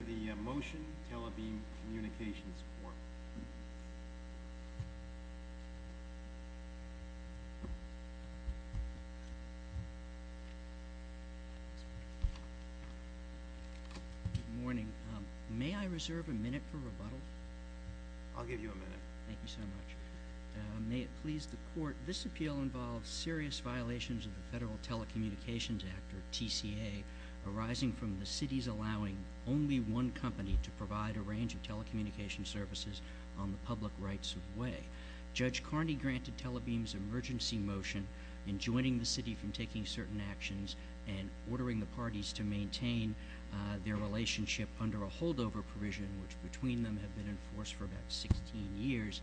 for the motion Telebeam Communications Corp. Good morning. May I reserve a minute for rebuttal? I'll give you a minute. Thank you so much. May it please the court, this appeal involves serious violations of the Federal Telecommunications Act, or TCA, arising from the city's allowing only one company to provide a range of telecommunications services on the public rights of way. Judge Carney granted Telebeam's emergency motion in joining the city from taking certain actions and ordering the parties to maintain their relationship under a holdover provision, which between them have been in force for about sixteen years.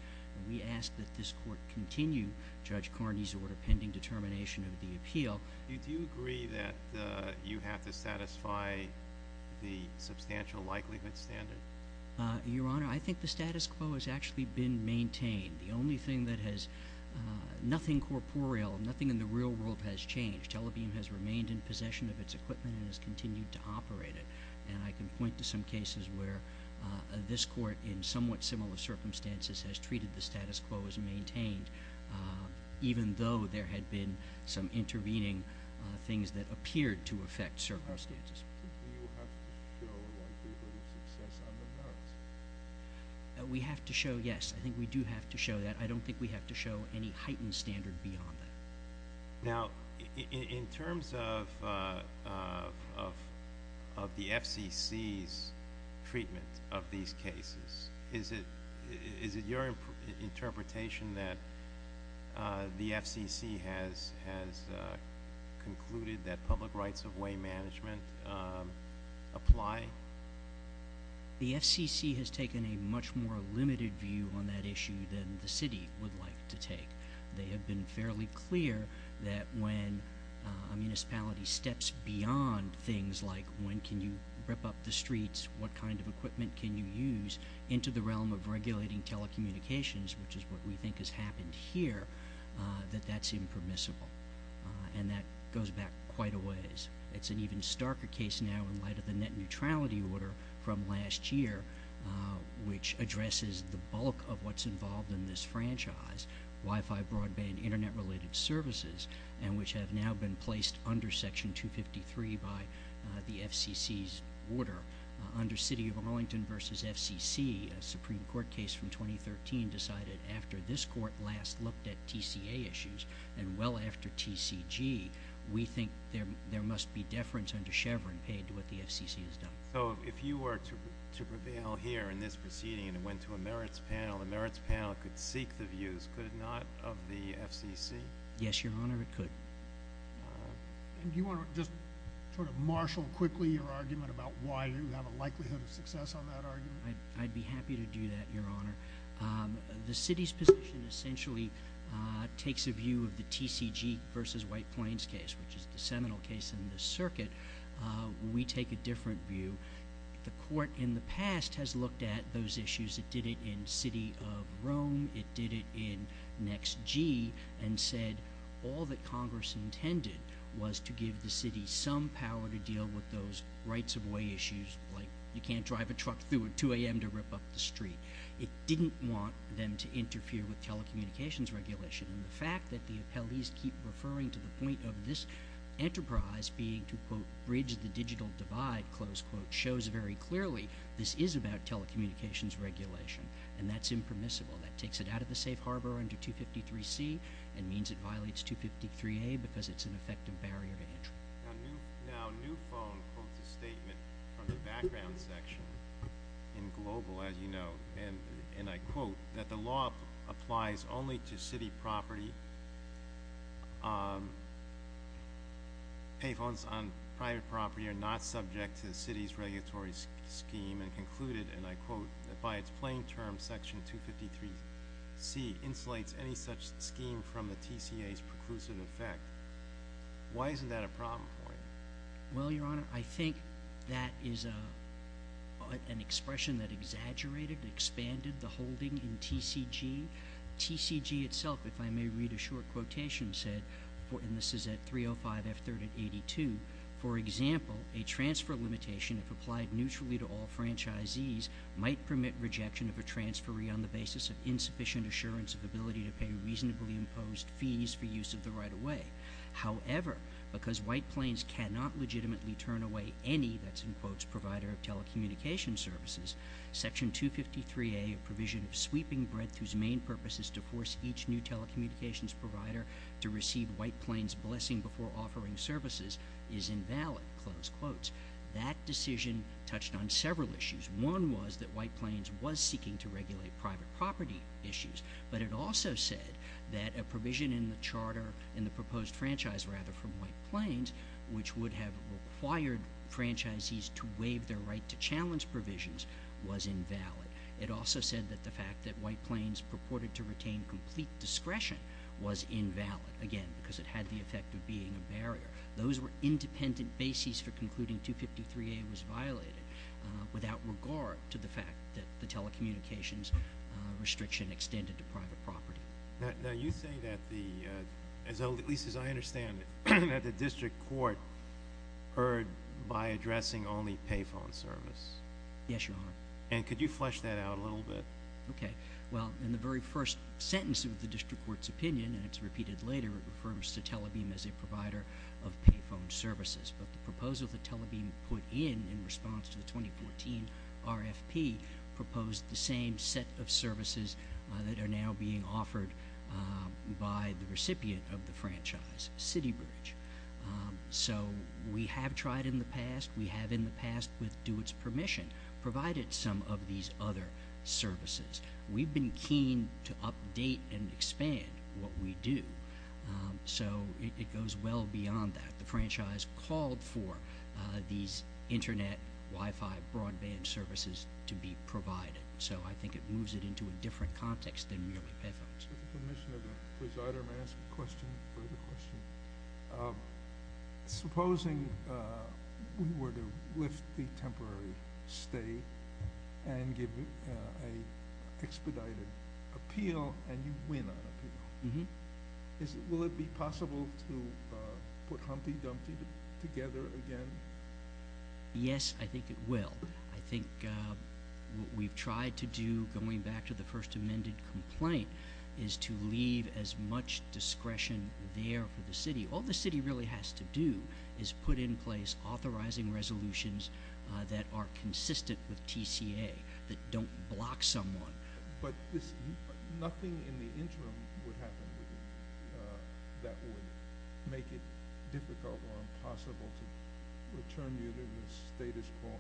We ask that this court continue Judge Carney's order pending determination of the appeal. Do you agree that you have to satisfy the substantial likelihood standard? Your Honor, I think the status quo has actually been maintained. The only thing that has nothing corporeal, nothing in the real world has changed. Telebeam has remained in possession of its equipment and has continued to operate it. And I can point to some cases where this court, in somewhat similar circumstances, has treated the status quo as maintained even though there had been some intervening things that appeared to affect circumstances. Do you have to show a likelihood of success on the ground? We have to show, yes, I think we do have to show that. I don't think we have to show any heightened standard beyond that. Now, in terms of the FCC's treatment of these cases, is it your interpretation that the FCC has concluded that public rights of way management apply? The FCC has taken a much more limited view on that issue than the city would like to take. They have been fairly clear that when a municipality steps beyond things like when can you rip up the streets, what kind of equipment can you use, into the realm of regulating telecommunications, which is what we think has happened here, that that's impermissible. And that goes back quite a ways. It's an even starker case now in light of the net neutrality order from last year, which addresses the bulk of what's involved in this franchise, Wi-Fi, broadband, Internet-related services, and which have now been placed under Section 253 by the FCC's order, under City of Arlington v. FCC. A Supreme Court case from 2013 decided after this Court last looked at TCA issues, and well after TCG, we think there must be deference under Chevron paid to what the FCC has done. So if you were to prevail here in this proceeding and it went to a merits panel, the merits panel could seek the views. Could it not of the FCC? Yes, Your Honor, it could. Do you want to just sort of marshal quickly your argument about why you have a likelihood of success on that argument? I'd be happy to do that, Your Honor. The City's position essentially takes a view of the TCG v. White Plains case, which is the seminal case in this circuit. We take a different view. The Court in the past has looked at those issues. It did it in City of Rome. It did it in NextG, and said all that Congress intended was to give the City some power to deal with those rights-of-way issues, like you can't drive a truck through at 2 a.m. to rip up the street. It didn't want them to interfere with telecommunications regulation. And the fact that the appellees keep referring to the point of this enterprise being to, quote, bridge the digital divide, close quote, shows very clearly this is about telecommunications regulation, and that's impermissible. That takes it out of the safe harbor under 253C and means it violates 253A because it's an effective barrier to entry. Now, Newphone quotes a statement from the background section in Global, as you know, and I quote, that the law applies only to City property. Payphones on private property are not subject to the City's regulatory scheme, and concluded, and I quote, that by its plain term, Section 253C insulates any such scheme from the TCA's preclusive effect. Why isn't that a problem for you? Well, Your Honor, I think that is an expression that exaggerated and expanded the holding in TCG. TCG itself, if I may read a short quotation, said, and this is at 305 F3rd and 82, for example, a transfer limitation, if applied neutrally to all franchisees, might permit rejection of a transferee on the basis of insufficient assurance of ability to pay reasonably imposed fees for use of the right-of-way. However, because White Plains cannot legitimately turn away any, that's in quotes, provider of telecommunications services, Section 253A, a provision of sweeping breadth whose main purpose is to force each new telecommunications provider to receive White Plains' blessing before offering services, is invalid, close quotes. That decision touched on several issues. One was that White Plains was seeking to regulate private property issues, but it also said that a provision in the charter, in the proposed franchise, rather, from White Plains, which would have required franchisees to waive their right to challenge provisions, was invalid. It also said that the fact that White Plains purported to retain complete discretion was invalid, again, because it had the effect of being a barrier. Those were independent bases for concluding 253A was violated without regard to the fact that the telecommunications restriction extended to private property. Now, you say that the, at least as I understand it, that the district court heard by addressing only payphone service. Yes, Your Honor. And could you flesh that out a little bit? Okay. Well, in the very first sentence of the district court's opinion, and it's repeated later, it refers to Telebeam as a provider of payphone services, but the proposal that Telebeam put in in response to the 2014 RFP proposed the same set of services that are now being offered by the recipient of the franchise, CityBridge. So we have tried in the past. We have, in the past, with DeWitt's permission, provided some of these other services. We've been keen to update and expand what we do. So it goes well beyond that. The franchise called for these internet, Wi-Fi, broadband services to be provided. So I think it moves it into a different context than merely payphones. With the permission of the presider, may I ask a question? Further question? Supposing we were to lift the temporary stay and give an expedited appeal and you win on appeal, will it be possible to put Humpty Dumpty together again? Yes, I think it will. I think what we've tried to do, going back to the first amended complaint, is to leave as much discretion there for the city. All the city really has to do is put in place authorizing resolutions that are consistent with TCA, that don't block someone. But nothing in the interim would happen that would make it difficult or impossible to return you to the status quo.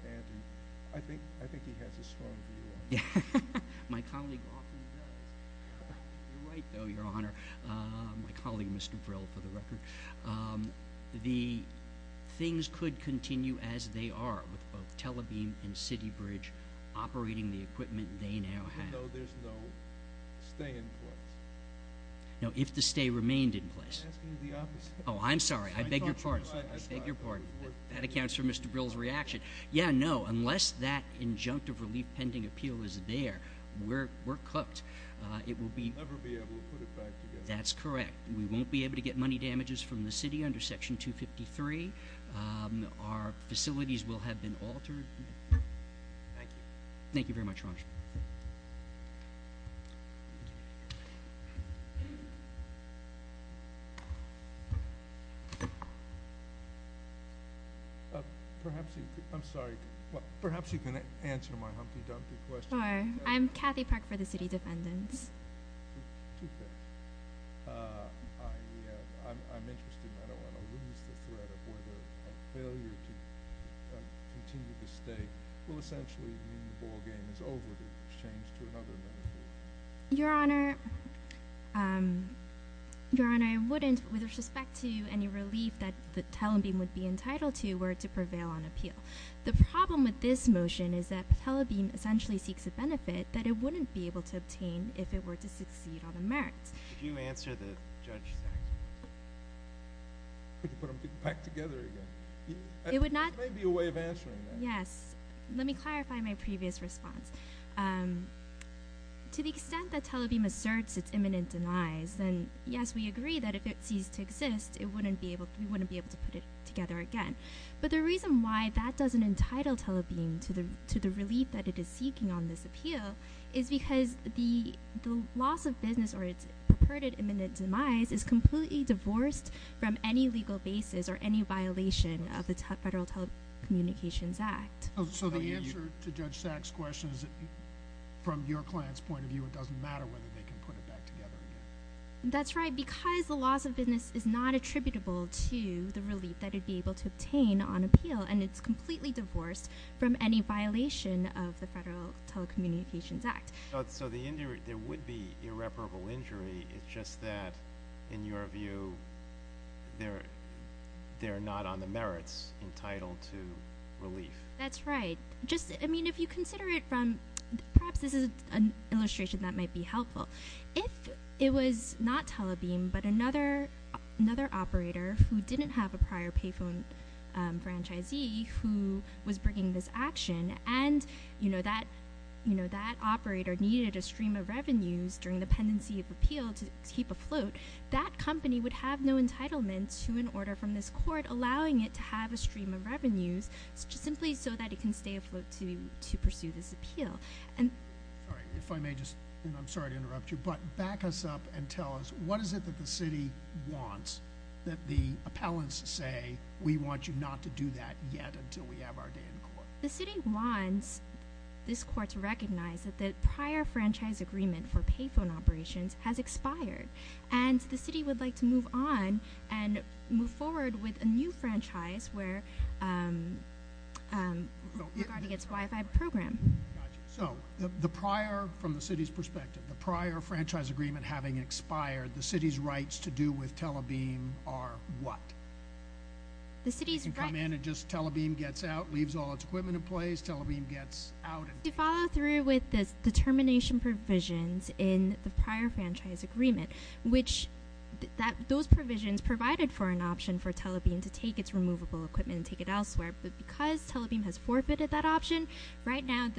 I think he has a strong view on that. My colleague often does. You're right, though, Your Honor. My colleague, Mr. Brill, for the record. The things could continue as they are, with both Telebeam and CityBridge operating the equipment they now have. Even though there's no stay in place? No, if the stay remained in place. I'm asking the opposite. Oh, I'm sorry. I beg your pardon. That accounts for Mr. Brill's reaction. Yeah, no, unless that injunctive relief pending appeal is there, we're cooked. We'll never be able to put it back together. That's correct. We won't be able to get money damages from the city under Section 253. Our facilities will have been altered. Thank you. Thank you very much, Your Honor. Perhaps you can answer my humpty-dumpty question. I'm Kathy Park for the City Defendants. I'm interested, and I don't want to lose the thread of whether a failure to continue the stay will essentially mean the ballgame is over to change to another benefit. Your Honor, I wouldn't, with respect to any relief that Telebeam would be entitled to, were it to prevail on appeal. The problem with this motion is that Telebeam essentially seeks a benefit that it wouldn't be able to obtain if it were to succeed on the merits. Could you answer the judge's action? Could you put them back together again? There may be a way of answering that. Yes. Let me clarify my previous response. To the extent that Telebeam asserts its imminent denies, then, yes, we agree that if it ceased to exist, we wouldn't be able to put it together again. But the reason why that doesn't entitle Telebeam to the relief that it is seeking on this appeal is because the loss of business or its purported imminent demise is completely divorced from any legal basis or any violation of the Federal Telecommunications Act. So the answer to Judge Sack's question is that, from your client's point of view, it doesn't matter whether they can put it back together again? That's right. Because the loss of business is not attributable to the relief that it would be able to obtain on appeal, and it's completely divorced from any violation of the Federal Telecommunications Act. So there would be irreparable injury. It's just that, in your view, they're not on the merits entitled to relief. That's right. I mean, if you consider it from—perhaps this is an illustration that might be helpful. If it was not Telebeam but another operator who didn't have a prior payphone franchisee who was bringing this action and that operator needed a stream of revenues during the pendency of appeal to keep afloat, that company would have no entitlement to an order from this court allowing it to have a stream of revenues simply so that it can stay afloat to pursue this appeal. All right. If I may just—and I'm sorry to interrupt you, but back us up and tell us, what is it that the city wants that the appellants say, we want you not to do that yet until we have our day in court? The city wants this court to recognize that the prior franchise agreement for payphone operations has expired, and the city would like to move on and move forward with a new franchise where—regarding its Wi-Fi program. Gotcha. So the prior—from the city's perspective, the prior franchise agreement having expired, the city's rights to do with Telebeam are what? The city's rights— To come in and just Telebeam gets out, leaves all its equipment in place, Telebeam gets out and— To follow through with the termination provisions in the prior franchise agreement, which those provisions provided for an option for Telebeam to take its removable equipment and take it elsewhere, but because Telebeam has forfeited that option, right now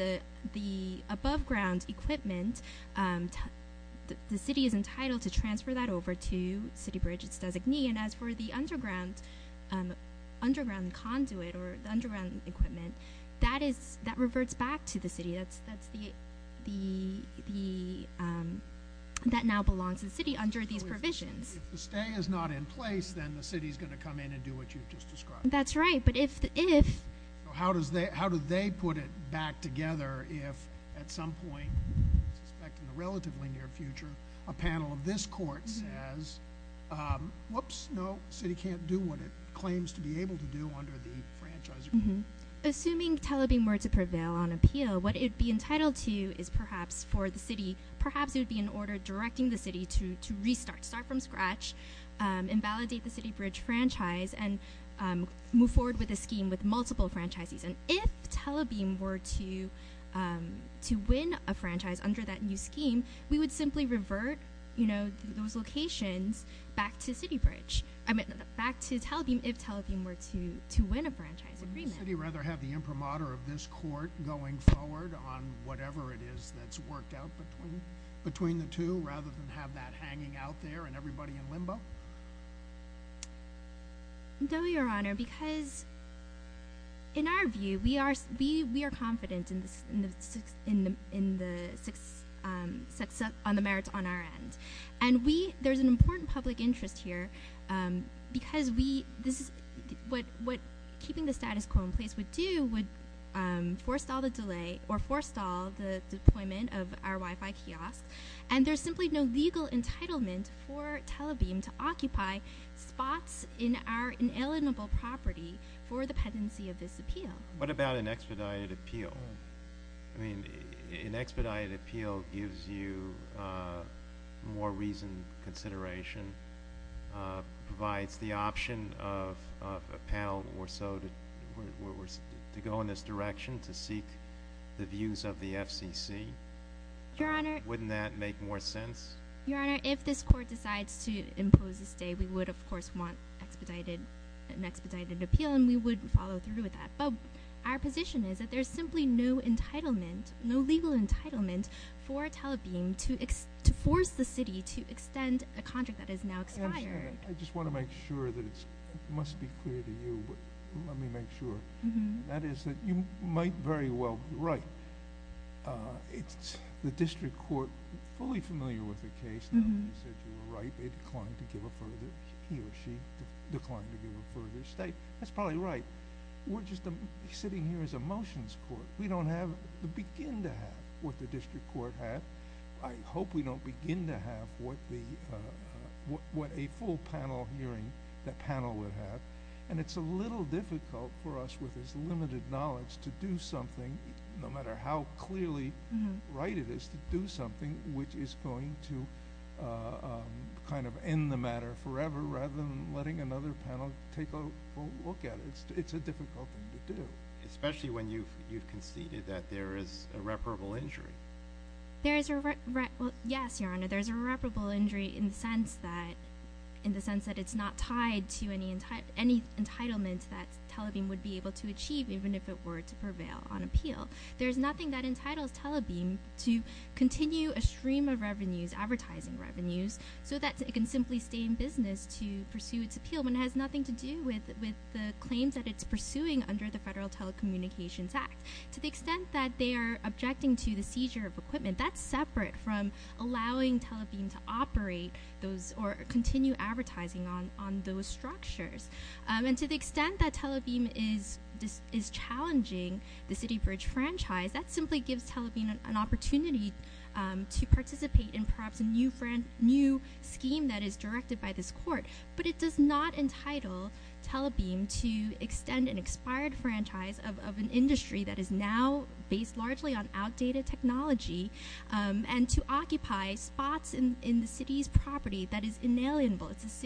the above-ground equipment, the city is entitled to transfer that over to CityBridge, its designee, and as for the underground conduit or the underground equipment, that reverts back to the city. That now belongs to the city under these provisions. So if the stay is not in place, then the city's going to come in and do what you've just described? That's right, but if— How do they put it back together if at some point, I suspect in the relatively near future, a panel of this court says, whoops, no, the city can't do what it claims to be able to do under the franchise agreement? Assuming Telebeam were to prevail on appeal, what it would be entitled to is perhaps for the city— perhaps it would be an order directing the city to restart, start from scratch, invalidate the CityBridge franchise, and move forward with a scheme with multiple franchises. And if Telebeam were to win a franchise under that new scheme, we would simply revert those locations back to Telebeam if Telebeam were to win a franchise agreement. Would the city rather have the imprimatur of this court going forward on whatever it is that's worked out between the two rather than have that hanging out there and everybody in limbo? No, Your Honor, because in our view, we are confident in the merits on our end. And there's an important public interest here because what keeping the status quo in place would do would forestall the delay or forestall the deployment of our Wi-Fi kiosk. And there's simply no legal entitlement for Telebeam to occupy spots in our inalienable property for the pendency of this appeal. What about an expedited appeal? I mean, an expedited appeal gives you more reason, consideration, provides the option of a panel or so to go in this direction to seek the views of the FCC. Wouldn't that make more sense? Your Honor, if this court decides to impose a stay, we would, of course, want an expedited appeal and we would follow through with that. But our position is that there's simply no entitlement, no legal entitlement for Telebeam to force the city to extend a contract that has now expired. I just want to make sure that it must be clear to you. Let me make sure. That is that you might very well be right. It's the district court fully familiar with the case. They said you were right. They declined to give a further, he or she declined to give a further stay. That's probably right. We're just sitting here as a motions court. We don't have to begin to have what the district court had. I hope we don't begin to have what a full panel hearing that panel would have. And it's a little difficult for us with this limited knowledge to do something, no matter how clearly right it is to do something, which is going to kind of end the matter forever rather than letting another panel take a look at it. It's a difficult thing to do. Especially when you've conceded that there is irreparable injury. Yes, Your Honor, there's irreparable injury in the sense that it's not tied to any entitlement that Telebeam would be able to achieve, even if it were to prevail on appeal. There's nothing that entitles Telebeam to continue a stream of revenues, advertising revenues, so that it can simply stay in business to pursue its appeal, when it has nothing to do with the claims that it's pursuing under the Federal Telecommunications Act. To the extent that they are objecting to the seizure of equipment, that's separate from allowing Telebeam to operate those or continue advertising on those structures. And to the extent that Telebeam is challenging the City Bridge franchise, that simply gives Telebeam an opportunity to participate in perhaps a new scheme that is directed by this court. But it does not entitle Telebeam to extend an expired franchise of an industry that is now based largely on outdated technology and to occupy spots in the City's property that is inalienable. It's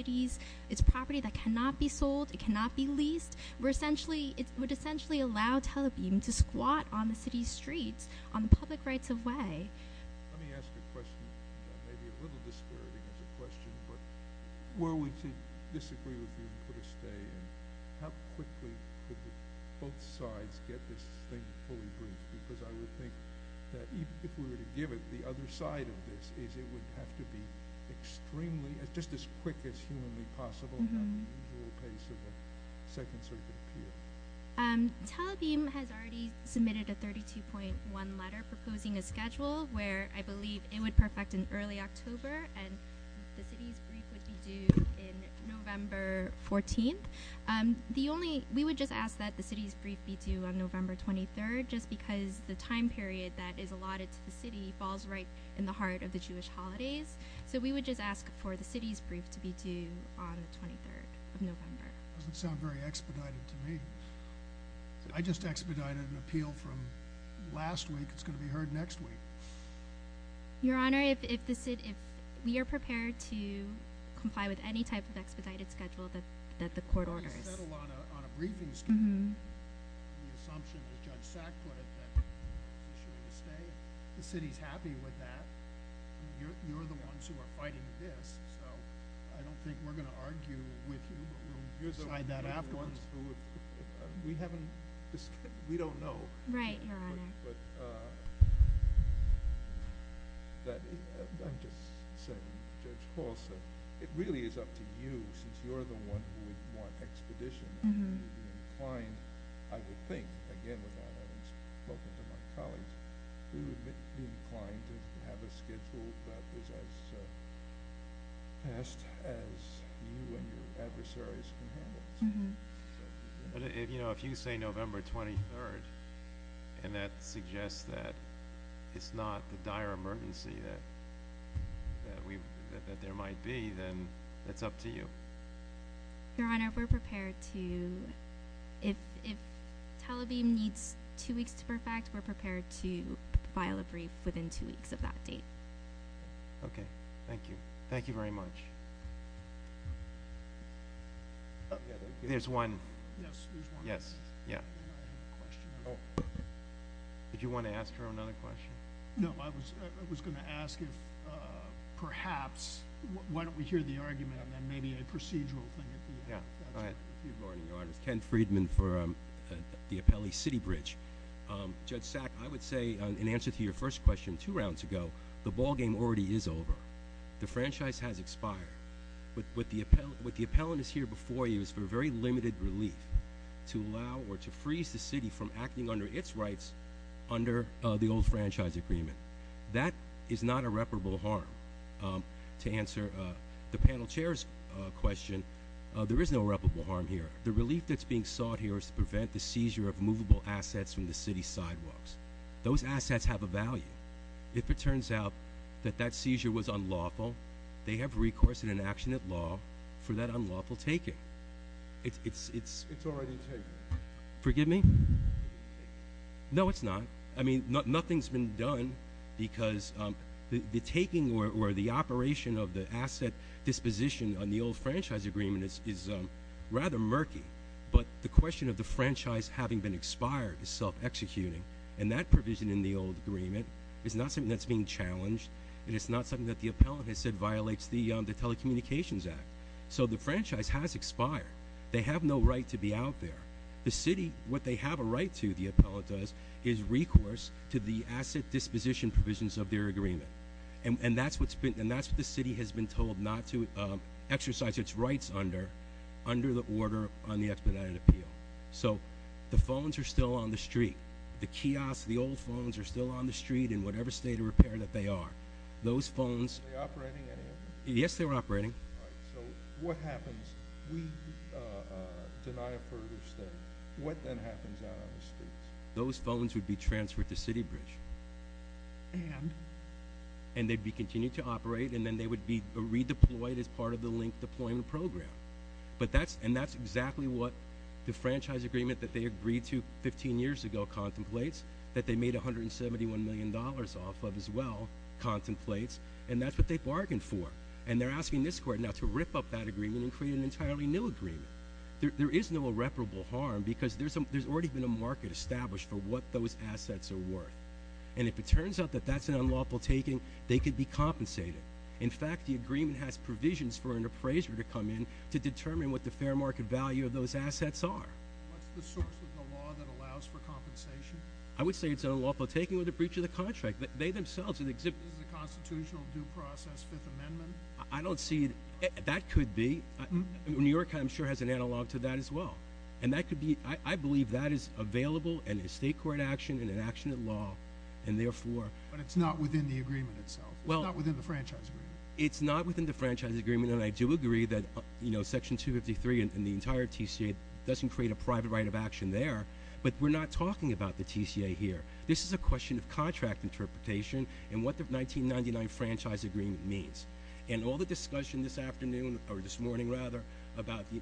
a property that cannot be sold, it cannot be leased. It would essentially allow Telebeam to squat on the City's streets, on the public rights-of-way. Let me ask a question that may be a little disparaging as a question. Were we to disagree with you and put a stay in, how quickly could both sides get this thing fully briefed? Because I would think that if we were to give it, the other side of this is it would have to be extremely, just as quick as humanly possible at the usual pace of a Second Circuit appeal. Telebeam has already submitted a 32.1 letter proposing a schedule where I believe it would perfect in early October and the City's brief would be due in November 14th. We would just ask that the City's brief be due on November 23rd, just because the time period that is allotted to the City falls right in the heart of the Jewish holidays. So we would just ask for the City's brief to be due on the 23rd of November. It doesn't sound very expedited to me. I just expedited an appeal from last week, it's going to be heard next week. Your Honor, if the City, if we are prepared to comply with any type of expedited schedule that the Court orders. You said a lot on a briefing schedule. The assumption, as Judge Sack put it, that the Court is issuing a stay. The City's happy with that. You're the ones who are fighting this, so I don't think we're going to argue with you. We'll decide that afterwards. We haven't discussed, we don't know. Right, Your Honor. But I'm just saying, Judge Hall said, it really is up to you, since you're the one who would want expeditions. I would think, again without having spoken to my colleagues, we would be inclined to have a schedule that was as fast as you and your adversaries can handle. If you say November 23rd, and that suggests that it's not the dire emergency that there might be, then it's up to you. Your Honor, we're prepared to, if Tel Aviv needs two weeks to perfect, we're prepared to file a brief within two weeks of that date. Okay, thank you. Thank you very much. There's one. Yes, there's one. Yes, yeah. Did you want to ask her another question? No, I was going to ask if perhaps, why don't we hear the argument and then maybe a procedural thing at the end. Yeah, go ahead. Good morning, Your Honor. Ken Friedman for the Appellee City Bridge. Judge Sack, I would say, in answer to your first question two rounds ago, the ballgame already is over. The franchise has expired. What the appellant is here before you is for a very limited relief to allow or to freeze the city from acting under its rights under the old franchise agreement. That is not irreparable harm. To answer the panel chair's question, there is no irreparable harm here. The relief that's being sought here is to prevent the seizure of movable assets from the city sidewalks. Those assets have a value. If it turns out that that seizure was unlawful, they have recourse in an action at law for that unlawful taking. It's already taken. Forgive me? No, it's not. I mean, nothing's been done because the taking or the operation of the asset disposition on the old franchise agreement is rather murky. But the question of the franchise having been expired is self-executing. And that provision in the old agreement is not something that's being challenged. And it's not something that the appellant has said violates the telecommunications act. So the franchise has expired. They have no right to be out there. The city, what they have a right to, the appellant does, is recourse to the asset disposition provisions of their agreement. And that's what the city has been told not to exercise its rights under, under the order on the expedited appeal. So the phones are still on the street. The kiosks, the old phones are still on the street in whatever state of repair that they are. Those phones. Are they operating anymore? Yes, they were operating. All right. So what happens? We deny a further stay. What then happens out on the streets? Those phones would be transferred to city bridge. And? And they'd be continued to operate, and then they would be redeployed as part of the link deployment program. But that's, and that's exactly what the franchise agreement that they agreed to 15 years ago contemplates. That they made $171 million off of as well, contemplates. And that's what they bargained for. And they're asking this court now to rip up that agreement and create an entirely new agreement. There is no irreparable harm because there's already been a market established for what those assets are worth. And if it turns out that that's an unlawful taking, they could be compensated. In fact, the agreement has provisions for an appraiser to come in to determine what the fair market value of those assets are. What's the source of the law that allows for compensation? I would say it's an unlawful taking with a breach of the contract. They themselves have exhibited. Is it a constitutional due process Fifth Amendment? I don't see it. That could be. New York, I'm sure, has an analog to that as well. And that could be, I believe that is available in a state court action and an action in law. And therefore. But it's not within the agreement itself. It's not within the franchise agreement. It's not within the franchise agreement. And I do agree that Section 253 and the entire TCA doesn't create a private right of action there. But we're not talking about the TCA here. This is a question of contract interpretation and what the 1999 franchise agreement means. And all the discussion this afternoon, or this morning rather, about the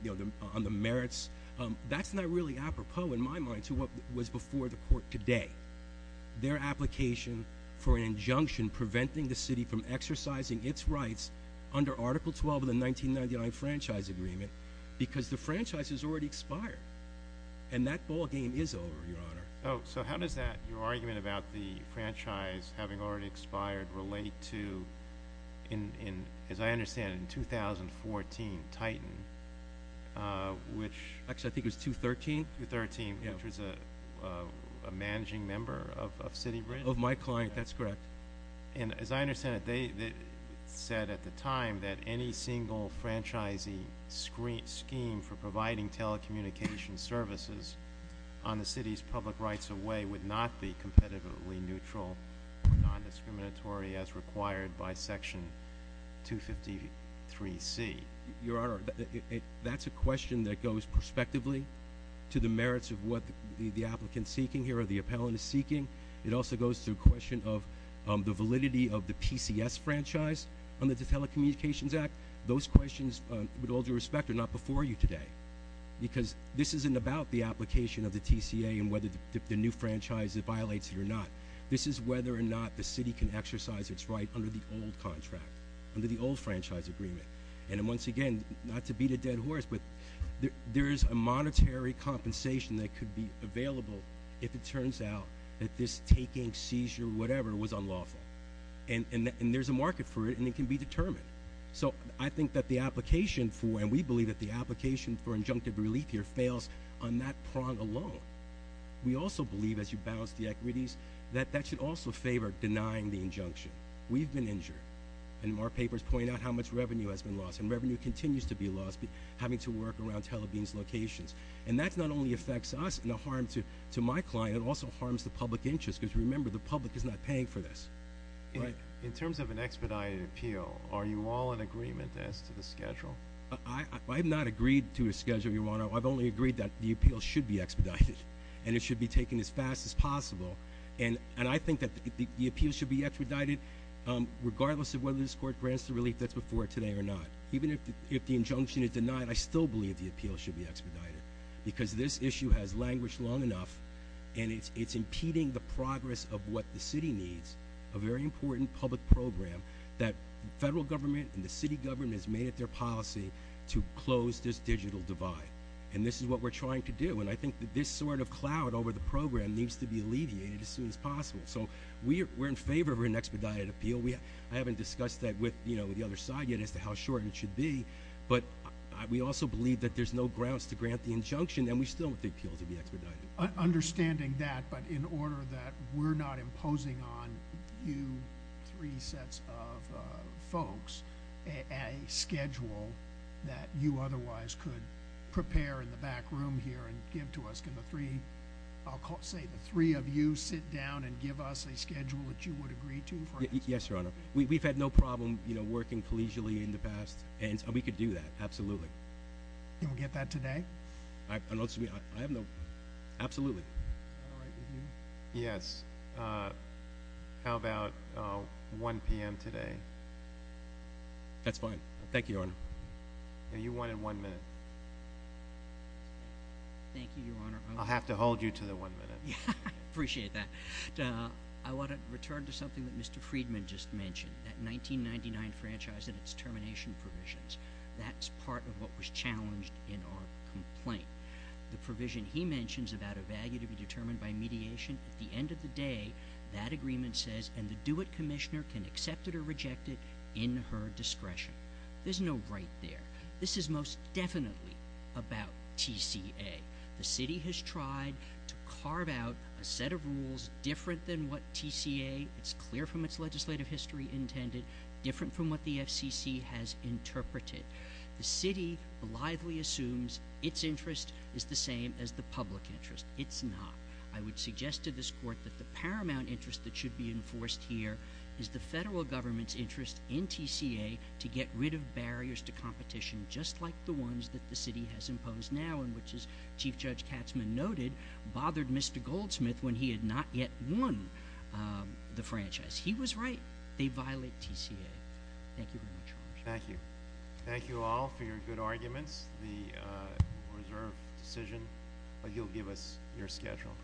merits, that's not really apropos in my mind to what was before the court today. Their application for an injunction preventing the city from exercising its rights under Article 12 of the 1999 franchise agreement. Because the franchise has already expired. And that ball game is over, Your Honor. Oh, so how does that, your argument about the franchise having already expired, relate to, as I understand it, in 2014, Titan, which... Actually, I think it was 213. 213, which was a managing member of City Bridge. Of my client, that's correct. And as I understand it, they said at the time that any single franchising scheme for providing telecommunications services on the city's public rights of way would not be competitively neutral or non-discriminatory as required by Section 253C. Your Honor, that's a question that goes prospectively to the merits of what the applicant seeking here or the appellant is seeking. It also goes to a question of the validity of the PCS franchise under the Telecommunications Act. Those questions, with all due respect, are not before you today. Because this isn't about the application of the TCA and whether the new franchise violates it or not. This is whether or not the city can exercise its right under the old contract, under the old franchise agreement. And once again, not to beat a dead horse, but there is a monetary compensation that could be available if it turns out that this taking, seizure, whatever, was unlawful. And there's a market for it, and it can be determined. So I think that the application for, and we believe that the application for injunctive relief here fails on that prong alone. We also believe, as you balance the equities, that that should also favor denying the injunction. We've been injured, and our papers point out how much revenue has been lost. And revenue continues to be lost having to work around Tel Aviv's locations. And that not only affects us and the harm to my client, it also harms the public interest. Because remember, the public is not paying for this. In terms of an expedited appeal, are you all in agreement as to the schedule? I have not agreed to a schedule, Your Honor. I've only agreed that the appeal should be expedited. And it should be taken as fast as possible. And I think that the appeal should be expedited regardless of whether this court grants the relief that's before it today or not. Even if the injunction is denied, I still believe the appeal should be expedited. Because this issue has languished long enough, and it's impeding the progress of what the city needs. A very important public program that federal government and the city government has made it their policy to close this digital divide. And this is what we're trying to do. And I think that this sort of cloud over the program needs to be alleviated as soon as possible. So we're in favor of an expedited appeal. I haven't discussed that with the other side yet as to how short it should be. But we also believe that there's no grounds to grant the injunction, and we still want the appeal to be expedited. Understanding that, but in order that we're not imposing on you three sets of folks a schedule that you otherwise could prepare in the back room here and give to us. Can the three of you sit down and give us a schedule that you would agree to? Yes, Your Honor. We've had no problem working collegially in the past, and we could do that. Absolutely. Can we get that today? Absolutely. Yes. How about 1 p.m. today? That's fine. Thank you, Your Honor. You wanted one minute. Thank you, Your Honor. I'll have to hold you to the one minute. I appreciate that. I want to return to something that Mr. Friedman just mentioned, that 1999 franchise and its termination provisions. That's part of what was challenged in our complaint. The provision he mentions about a value to be determined by mediation, at the end of the day, that agreement says, and the do-it commissioner can accept it or reject it in her discretion. There's no right there. This is most definitely about TCA. The city has tried to carve out a set of rules different than what TCA, it's clear from its legislative history intended, different from what the FCC has interpreted. The city blithely assumes its interest is the same as the public interest. It's not. I would suggest to this court that the paramount interest that should be enforced here is the federal government's interest in TCA to get rid of barriers to competition, just like the ones that the city has imposed now, and which, as Chief Judge Katzmann noted, bothered Mr. Goldsmith when he had not yet won the franchise. He was right. They violate TCA. Thank you very much, Your Honor. Thank you. Thank you all for your good arguments. This is the reserve decision. You'll give us your schedule.